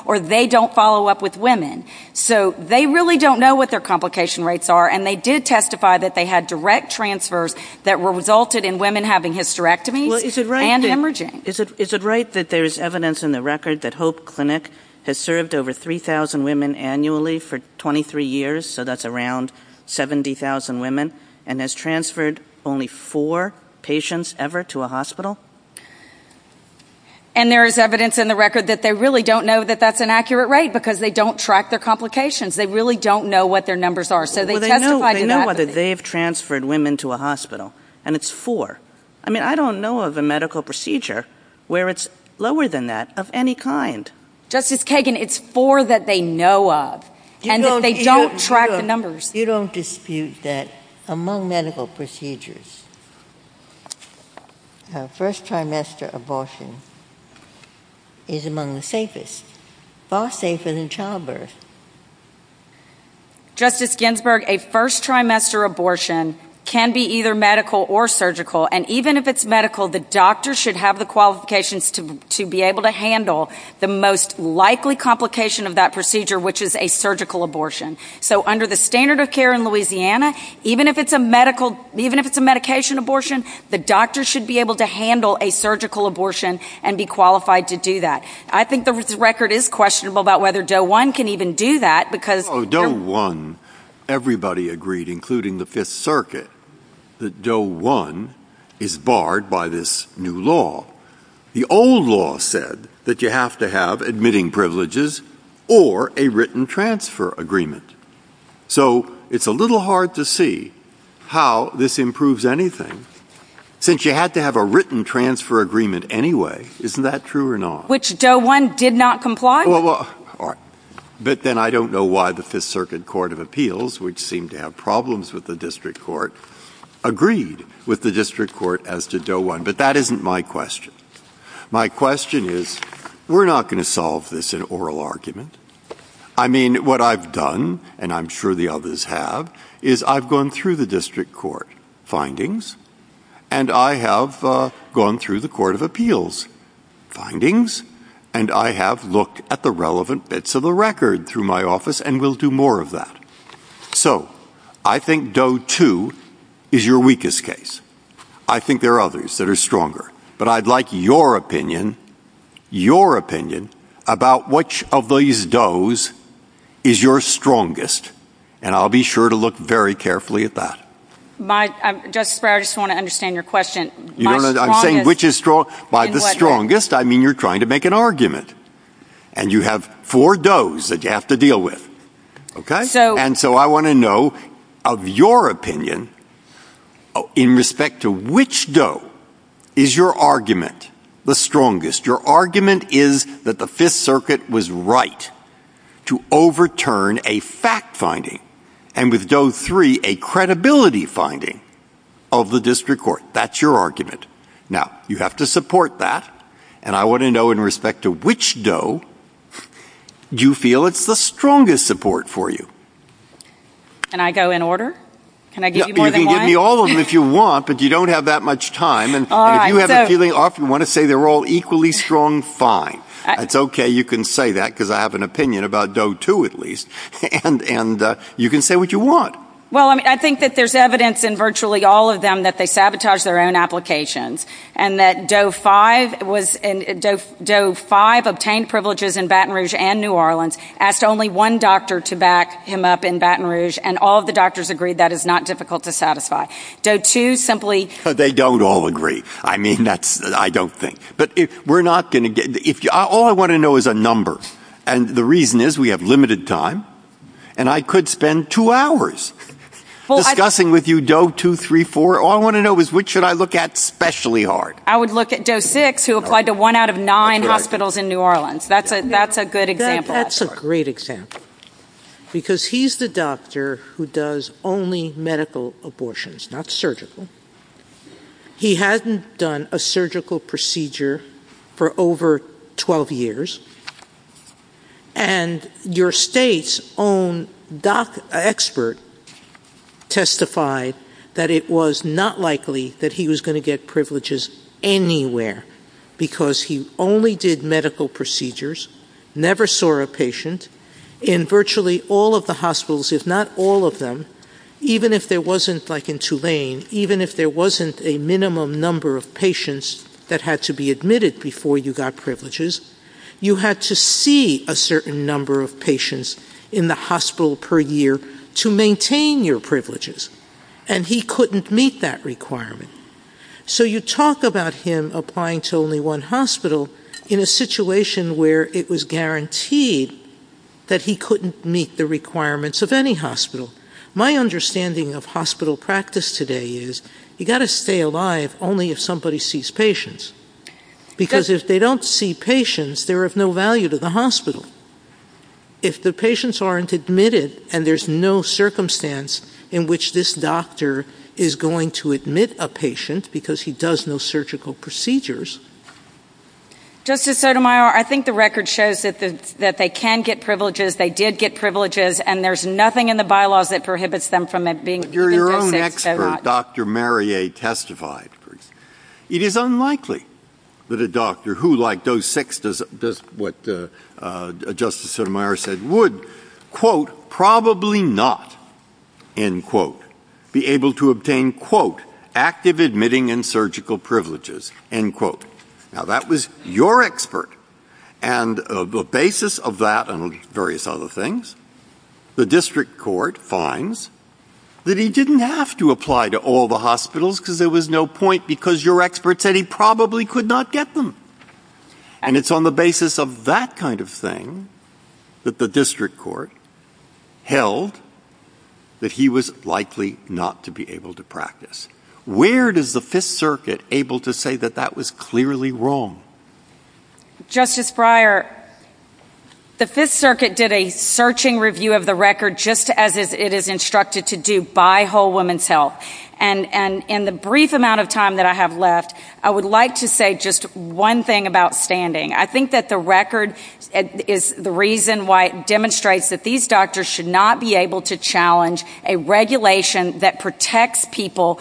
or they don't follow up with women. So they really don't know what their complication rates are and they did testify that they had direct transfers that resulted in women having hysterectomies and hemorrhaging. Is it right that there's evidence in the record that Hope Clinic has served over 3,000 women annually for 23 years, so that's around 70,000 women, and has transferred only four patients ever to a hospital? And there is evidence in the record that they really don't know that that's an accurate rate because they don't track their complications. They really don't know what their numbers are. So they testified to that. They know whether they've transferred women to a hospital and it's four. I mean, I don't know of a medical procedure where it's lower than that of any kind. Justice Kagan, it's four that they know of and they don't track the numbers. You don't dispute that among medical procedures, a first trimester abortion is among the safest, far safer than childbirth? Justice Ginsburg, a first trimester abortion can be either medical or surgical, and even if it's medical, the doctor should have the qualifications to be able to handle the most likely complication of that procedure, which is a surgical abortion. So under the standard of care in Louisiana, even if it's a medical, even if it's a medication abortion, the doctor should be able to handle a surgical abortion and be qualified to do that. I think the record is questionable about whether DOE 1 can even do that. DOE 1, everybody agreed, including the Fifth Circuit, that DOE 1 is barred by this new law. The old law said that you have to have admitting privileges or a written transfer agreement. So it's a little hard to see how this improves anything since you had to have a written transfer agreement anyway. Isn't that true or not? Which DOE 1 did not comply with? But then I don't know why the Fifth Circuit Court of Appeals, which seemed to have problems with the My question is, we're not going to solve this in oral argument. I mean, what I've done, and I'm sure the others have, is I've gone through the district court findings, and I have gone through the Court of Appeals findings, and I have looked at the relevant bits of the record through my office, and we'll do more of that. So I think DOE 2 is your weakest case. I think there are others that are stronger. But I'd like your opinion, your opinion, about which of these DOEs is your strongest, and I'll be sure to look very carefully at that. Justice Breyer, I just want to understand your question. I'm saying which is strong. By the strongest, I mean you're trying to make an argument, and you have four DOEs that you have to deal with, okay? And so I want to know of your opinion, in respect to which DOE is your argument the strongest? Your argument is that the Fifth Circuit was right to overturn a fact finding, and with DOE 3, a credibility finding of the district court. That's your argument. Now, you have to support that, and I want to know in respect to which DOE do you feel it's the strongest support for you? And I go in order? Can I give you more time? You can give me all of them if you want, but you don't have that much time. And if you have a feeling off, you want to say they're all equally strong, fine. It's okay, you can say that, because I have an opinion about DOE 2, at least. And you can say what you want. Well, I mean, I think that there's evidence in virtually all of them that they sabotaged their own applications, and that DOE 5 obtained privileges in Baton Rouge and New Orleans, asked only one doctor to back him up in Baton Rouge, and all of the doctors agreed that is difficult to satisfy. DOE 2 simply... They don't all agree. I mean, that's, I don't think. But we're not going to get... All I want to know is a number, and the reason is we have limited time, and I could spend two hours discussing with you DOE 2, 3, 4. All I want to know is which should I look at especially hard? I would look at DOE 6, who applied to one out of nine hospitals in New Orleans. That's a good example. That's a great example, because he's the doctor who does only medical abortions, not surgical. He hadn't done a surgical procedure for over 12 years, and your state's own doc expert testified that it was not likely that he was going to get privileges anywhere, because he only did medical procedures, never saw a patient, in virtually all of the hospitals, if not all of them, even if there wasn't, like in Tulane, even if there wasn't a minimum number of patients that had to be admitted before you got privileges, you had to see a certain number of patients in the hospital per year to maintain your privileges, and he couldn't meet that requirement. So you talk about him applying to only one hospital in a situation where it was guaranteed that he couldn't meet the requirements of any hospital. My understanding of hospital practice today is you got to stay alive only if somebody sees patients, because if they don't see patients, they're of no value to the hospital. If the patients aren't admitted and there's no circumstance in which this doctor is going to get privileges. Justice Sotomayor, I think the record shows that they can get privileges, they did get privileges, and there's nothing in the bylaws that prohibits them from being given those privileges so much. But your own expert, Dr. Mariette, testified. It is unlikely that a doctor who, like those six, does what Justice Sotomayor said, would, quote, probably not, end quote, be able to obtain, quote, active admitting and surgical privileges, end quote. Now, that was your expert. And the basis of that and various other things, the district court finds that he didn't have to apply to all the hospitals because there was no point because your expert said he probably could not get them. And it's on the basis of that kind of thing that the district court held that he was likely not to be able to practice. Where does the Fifth Circuit able to say that that was clearly wrong? Justice Breyer, the Fifth Circuit did a searching review of the record just as it is instructed to do by Whole Woman's Health. And in the brief amount of time that I have left, I would like to say just one thing about standing. I think that the record is the reason why it demonstrates that these doctors should not be able to challenge a regulation that protects people,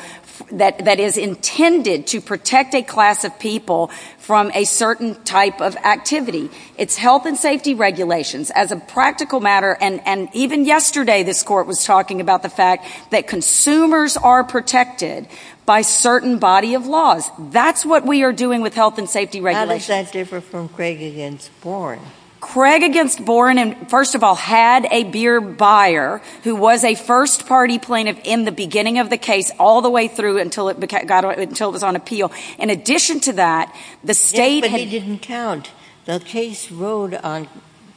that is intended to protect a class of people from a certain type of activity. It's health and safety regulations. As a practical matter, and even yesterday this court was talking about the fact that consumers are protected by certain body of laws. That's what we are doing with health and safety regulations. How does that differ from Craig against Boren? Craig against Boren, first of all, had a beer buyer who was a first party plaintiff in the beginning of the case all the way through until it was on appeal. In addition to that, the state Yes, but he didn't count. The case rode on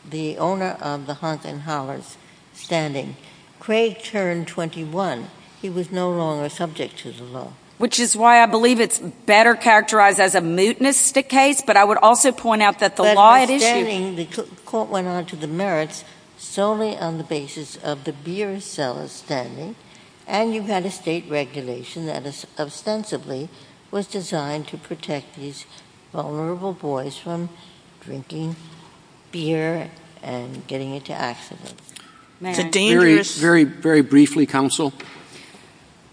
the owner of the Honk and Hollers standing. Craig turned 21. He was no longer subject to the law. Which is why I believe it's better characterized as a mutinous case, but I would also point out that the law at issue But standing, the court went on to the merits solely on the basis of the beer seller standing and you've had a state regulation that is ostensibly was designed to protect these vulnerable boys from drinking beer and getting into accidents. Very, very briefly, counsel.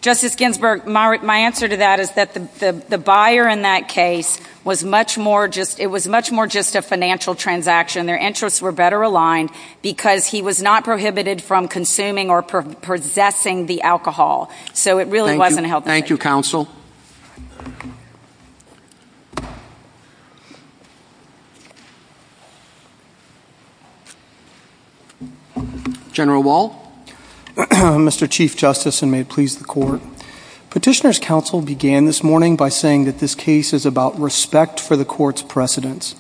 Justice Ginsburg, my answer to that is that the buyer in that case was much more just, it was much more just a financial transaction. Their interests were better aligned because he was not prohibited from consuming or possessing the alcohol. So it really wasn't health and safety. Thank you, counsel. General Wall. Mr. Chief Justice, and may it please the court. Petitioner's counsel began this morning by saying that this case is about respect for the court's precedence.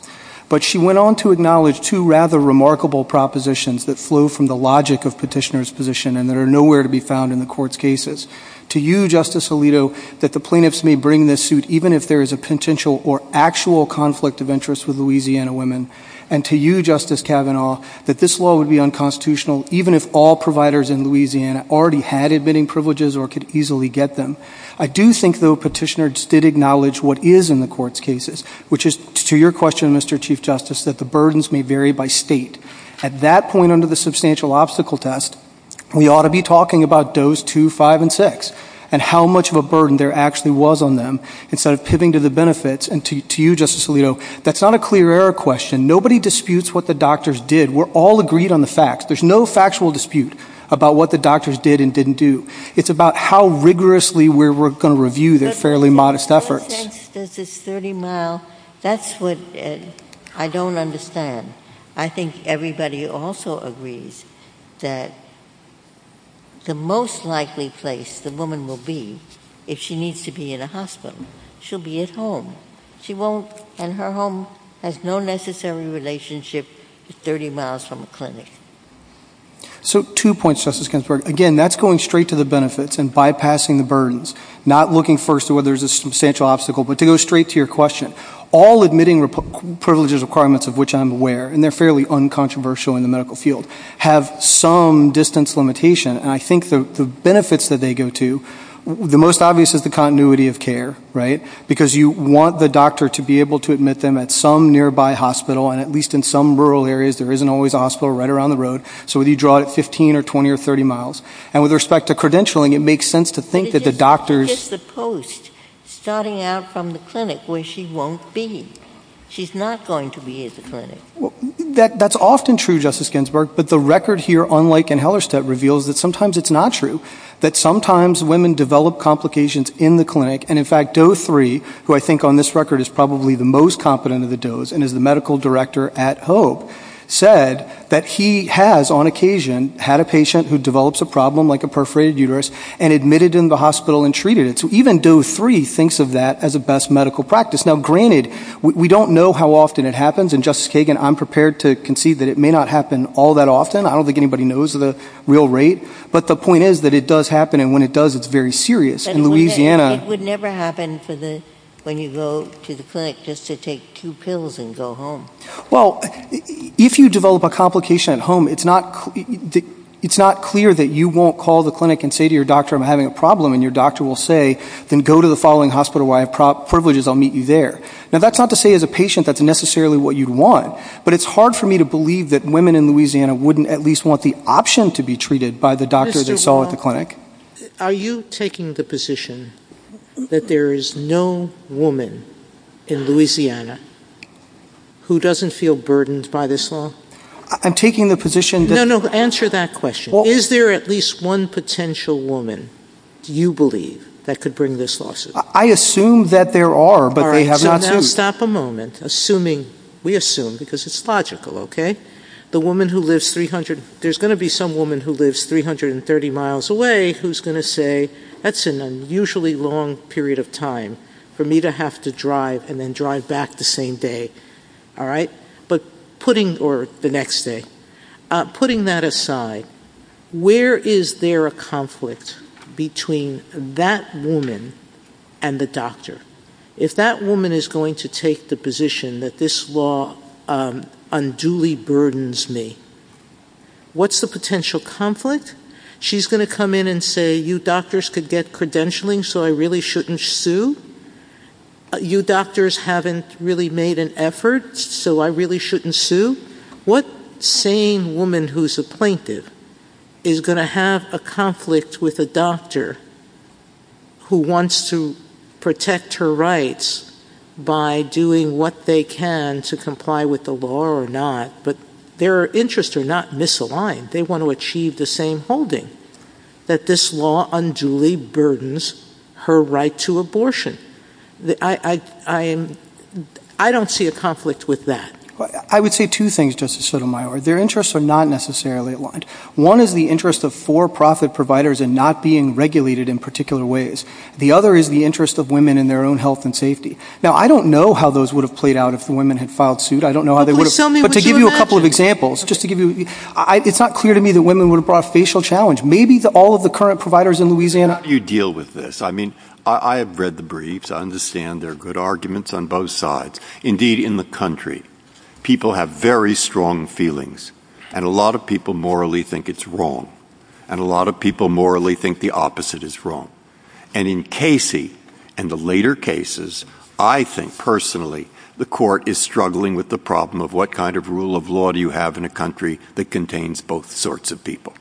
But she went on to acknowledge two rather remarkable propositions that flow from the logic of petitioner's position and that are nowhere to be found in the court's cases. To you, Justice Alito, that the plaintiffs may bring this suit even if there is a potential or actual conflict of interest with Louisiana women. And to you, Justice Kavanaugh, that this law would be unconstitutional even if all providers in Louisiana already had admitting privileges or could easily get them. I do think, though, petitioners did acknowledge what is in the court's cases, which is to your question, Mr. Chief Justice, that the burdens may vary by state. At that point under the substantial obstacle test, we ought to be talking about those two, five, and six and how much of a burden there actually was on them instead of pivoting to the benefits. And to you, Justice Alito, that's not a clear error question. Nobody disputes what the doctors did. We're all agreed on the facts. There's no factual dispute about what the doctors did and didn't do. It's about how rigorously we're going to review their fairly modest efforts. Does this 30 mile, that's what I don't understand. I think everybody also agrees that the most likely place the woman will be if she needs to be in a hospital, she'll be at home. And her home has no necessary relationship with 30 miles from a clinic. So two points, Justice Ginsburg. Again, that's going straight to the benefits and bypassing the burdens, not looking first to whether there's a substantial obstacle, but to go straight to your question. All admitting privileges requirements, of which I'm aware, and they're fairly uncontroversial in the medical field, have some distance limitation. And I think the benefits that they go to, the most obvious is the continuity of care, right? Because you want the doctor to be able to admit them at some nearby hospital. And at least in some rural areas, there isn't always a hospital right around the road. So whether you draw it at 15 or 20 or 30 miles. And with respect to credentialing, it makes sense to think that the doctors... But it's just the post, starting out from the clinic where she won't be. She's not going to be at the clinic. That's often true, Justice Ginsburg. But the record here, unlike in Hellerstedt, reveals that sometimes it's not true, that sometimes women develop complications in the clinic. And in fact, Doe 3, who I think on this record is probably the most competent of the Does and is the medical director at Hope, said that he has, on occasion, had a patient who develops a problem like a perforated uterus and admitted in the hospital and treated it. So even Doe 3 thinks of that as a best medical practice. Now, granted, we don't know how often it happens. And Justice Kagan, I'm prepared to concede that it may not happen all that often. I don't think anybody knows the real rate. But the point is that it does happen. And when it does, it's very serious. In Louisiana... But it would never happen when you go to the clinic just to take two pills and go home. Well, if you develop a complication at home, it's not clear that you won't call the clinic and say to your doctor, I'm having a problem. And your doctor will say, then go to the following hospital where I have privileges. I'll meet you there. Now, that's not to say, as a patient, that's necessarily what you'd want. But it's hard for me to believe that women in Louisiana wouldn't at option to be treated by the doctor they saw at the clinic. Are you taking the position that there is no woman in Louisiana who doesn't feel burdened by this law? I'm taking the position that... No, no. Answer that question. Is there at least one potential woman, do you believe, that could bring this lawsuit? I assume that there are, but they have not seen... All right. So now stop a moment. Assuming, we assume, because it's logical, okay? The lives 300... There's going to be some woman who lives 330 miles away who's going to say, that's an unusually long period of time for me to have to drive and then drive back the same day. All right? But putting... Or the next day. Putting that aside, where is there a conflict between that woman and the doctor? If that woman is going to take the position that this law unduly burdens me, what's the potential conflict? She's going to come in and say, you doctors could get credentialing, so I really shouldn't sue. You doctors haven't really made an effort, so I really shouldn't sue. What sane woman who's a plaintiff is going to have a conflict with a doctor who wants to protect her rights by doing what they can to comply with the law or not, but their interests are not misaligned. They want to achieve the same holding, that this law unduly burdens her right to abortion. I don't see a conflict with that. I would say two things, Justice Sotomayor. Their interests are not necessarily aligned. One is the interest of for-profit providers and not being regulated in particular ways. The other is the interest of women in their own health and safety. Now, I don't know how those would have played out if the women had filed suit. I don't know how they would have... But please tell me what you imagine. But to give you a couple of examples, just to give you... It's not clear to me that women would have brought a facial challenge. Maybe all of the current providers in Louisiana... How do you deal with this? I mean, I have read the briefs. I understand there are good arguments on both sides. Indeed, in the country, people have very strong feelings, and a lot of people morally think it's wrong, and a lot of people morally think the opposite is wrong. And in Casey and the later cases, I think personally, the court is struggling with the problem of what kind of rule of law do you have in a country that contains both sorts of people?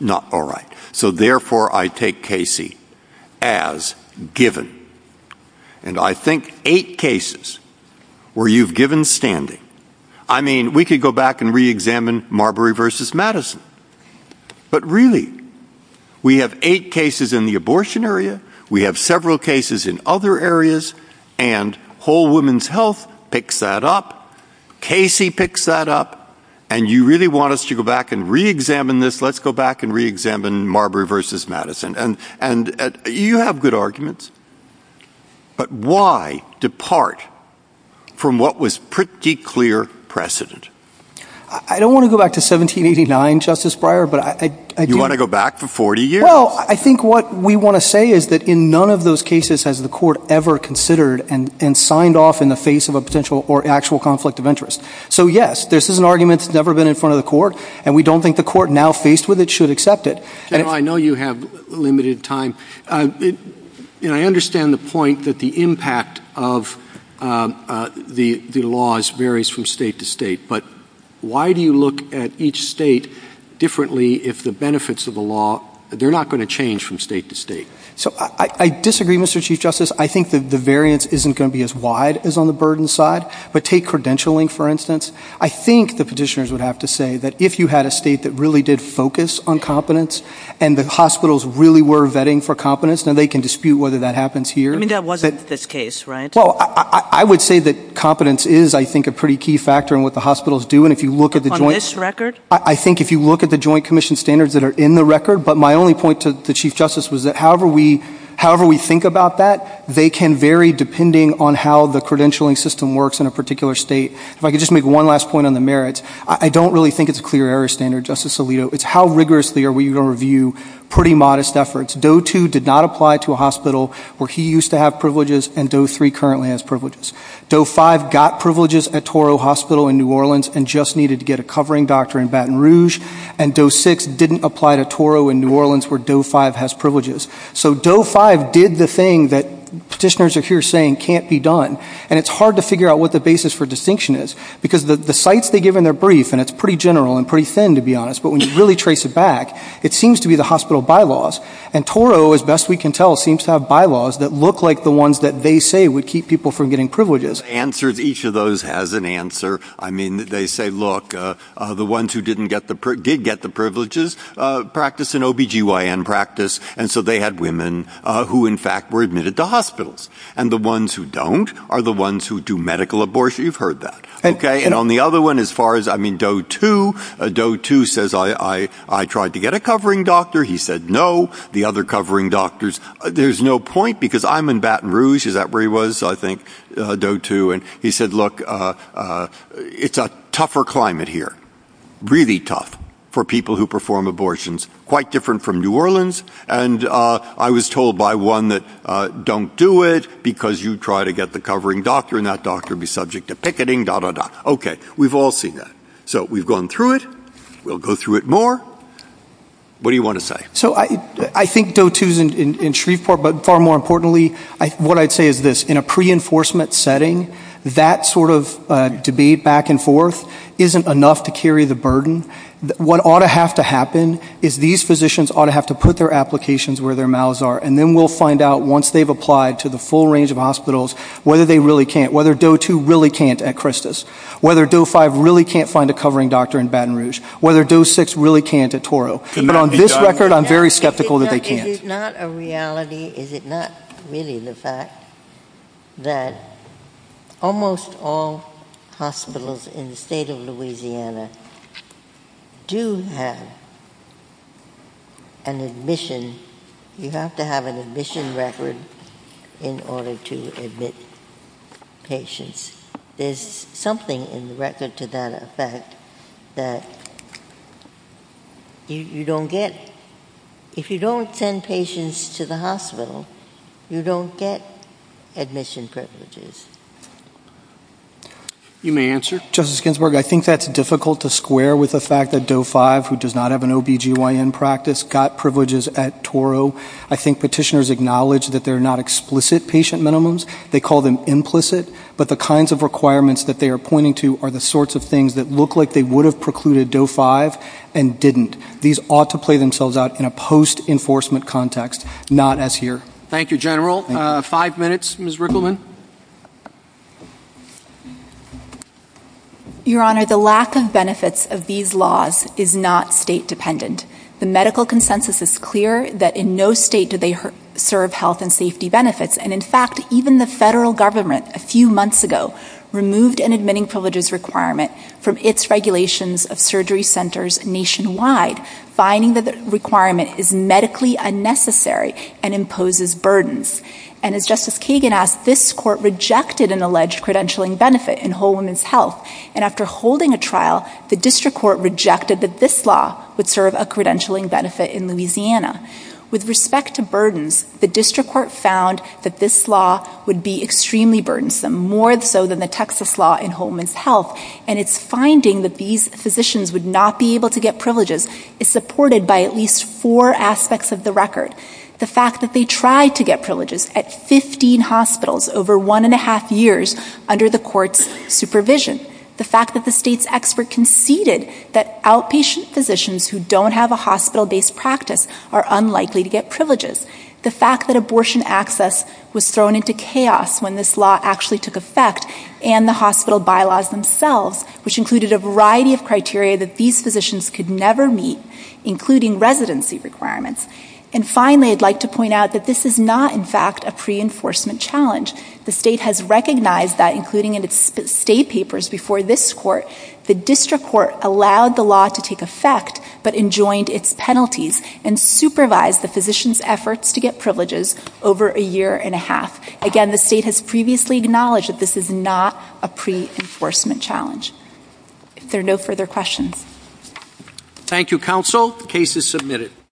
Not all right. So therefore, I take Casey as given. And I think eight cases where you've standing. I mean, we could go back and re-examine Marbury v. Madison. But really, we have eight cases in the abortion area. We have several cases in other areas. And Whole Women's Health picks that up. Casey picks that up. And you really want us to go back and re-examine this. Let's go back and re-examine Marbury v. Madison. And you have good arguments. But why depart from what was pretty clear precedent? I don't want to go back to 1789, Justice Breyer, but I do. You want to go back for 40 years? Well, I think what we want to say is that in none of those cases has the court ever considered and signed off in the face of a potential or actual conflict of interest. So yes, this is an argument that's never been in front of the court, and we don't think the court now faced with it should accept it. General, I know you have limited time. You know, I understand the point that the impact of the laws varies from state to state. But why do you look at each state differently if the benefits of the law, they're not going to change from state to state? So I disagree, Mr. Chief Justice. I think the variance isn't going to be as wide as on the burden side. But take credentialing, for instance. I think the petitioners would have to say that if you had a state that really did focus on hospitals really were vetting for competence, now they can dispute whether that happens here. I mean, that wasn't this case, right? Well, I would say that competence is, I think, a pretty key factor in what the hospitals do. And if you look at the joint ‑‑ On this record? I think if you look at the Joint Commission standards that are in the record. But my only point to the Chief Justice was that however we think about that, they can vary depending on how the credentialing system works in a particular state. If I could just make one last point on the merits. I don't really think it's a clear error standard, Justice Alito. It's how rigorously are we going to review pretty modest efforts? Doe 2 did not apply to a hospital where he used to have privileges and Doe 3 currently has privileges. Doe 5 got privileges at Toro Hospital in New Orleans and just needed to get a covering doctor in Baton Rouge. And Doe 6 didn't apply to Toro in New Orleans where Doe 5 has privileges. So Doe 5 did the thing that petitioners are here saying can't be done. And it's hard to figure out what the basis for distinction is. Because the sites they give in their brief, and it's pretty general and pretty thin, to be honest, but when you really trace it back, it seems to be the hospital bylaws. And Toro, as best we can tell, seems to have bylaws that look like the ones that they say would keep people from getting privileges. Answers. Each of those has an answer. I mean, they say, look, the ones who did get the privileges practice an OBGYN practice. And so they had women who in fact were admitted to hospitals. And the ones who don't are the ones who do medical abortion. You've heard that. And on the other one, as far as, I mean, Doe 2, Doe 2 says I tried to get a covering doctor. He said no. The other covering doctors, there's no point because I'm in Baton Rouge. Is that where he was? I think Doe 2. And he said, look, it's a tougher climate here. Really tough for people who perform abortions. Quite different from New Orleans. And I was told by one that don't do it because you try to get the covering doctor. And that doctor would be subject to picketing. Okay. We've all seen that. So we've gone through it. We'll go through it more. What do you want to say? So I think Doe 2 is in Shreveport. But far more importantly, what I'd say is this. In a pre-enforcement setting, that sort of debate back and forth isn't enough to carry the burden. What ought to have to happen is these physicians ought to have to put their applications where their mouths are. And then we'll find out once they've applied to the full range of hospitals whether they really can't. Whether Doe 2 really can't at Christus. Whether Doe 5 really can't find a covering doctor in Baton Rouge. Whether Doe 6 really can't at Toro. But on this record, I'm very skeptical that they can't. Is it not a reality, is it not really the fact that almost all hospitals in the state of Louisiana do have an admission, you have to admission record in order to admit patients. There's something in the record to that effect that you don't get, if you don't send patients to the hospital, you don't get admission privileges. You may answer. Justice Ginsburg, I think that's difficult to square with the fact that Doe 5, who does not have an OBGYN practice, got privileges at Toro. I think petitioners acknowledge that they're not explicit patient minimums. They call them implicit. But the kinds of requirements that they are pointing to are the sorts of things that look like they would have precluded Doe 5 and didn't. These ought to play themselves out in a post-enforcement context, not as here. Thank you, General. Five minutes, Ms. Rickleman. Your Honor, the lack of benefits of these laws is not state-dependent. The medical consensus is clear that in no state do they serve health and safety benefits. And in fact, even the federal government, a few months ago, removed an admitting privileges requirement from its regulations of surgery centers nationwide, finding that the requirement is medically unnecessary and imposes burdens. And as Justice Kagan asked, this was not the first time that rejected an alleged credentialing benefit in Whole Woman's Health. And after holding a trial, the district court rejected that this law would serve a credentialing benefit in Louisiana. With respect to burdens, the district court found that this law would be extremely burdensome, more so than the Texas law in Whole Woman's Health. And its finding that these physicians would not be able to get privileges is supported by at least four aspects of the record. The fact that they tried to get privileges at 15 hospitals over one and a half years under the court's supervision. The fact that the state's expert conceded that outpatient physicians who don't have a hospital-based practice are unlikely to get privileges. The fact that abortion access was thrown into chaos when this law actually took effect, and the hospital bylaws themselves, which included a variety of criteria that these physicians could never meet, including residency requirements. And finally, I'd like to point out that this is not, in fact, a pre-enforcement challenge. The state has recognized that, including in its state papers before this court, the district court allowed the law to take effect, but enjoined its penalties and supervised the physician's efforts to get privileges over a year and a half. Again, the state has previously acknowledged that this is not a pre-enforcement challenge. If there are no further questions. Thank you, counsel. The case is submitted.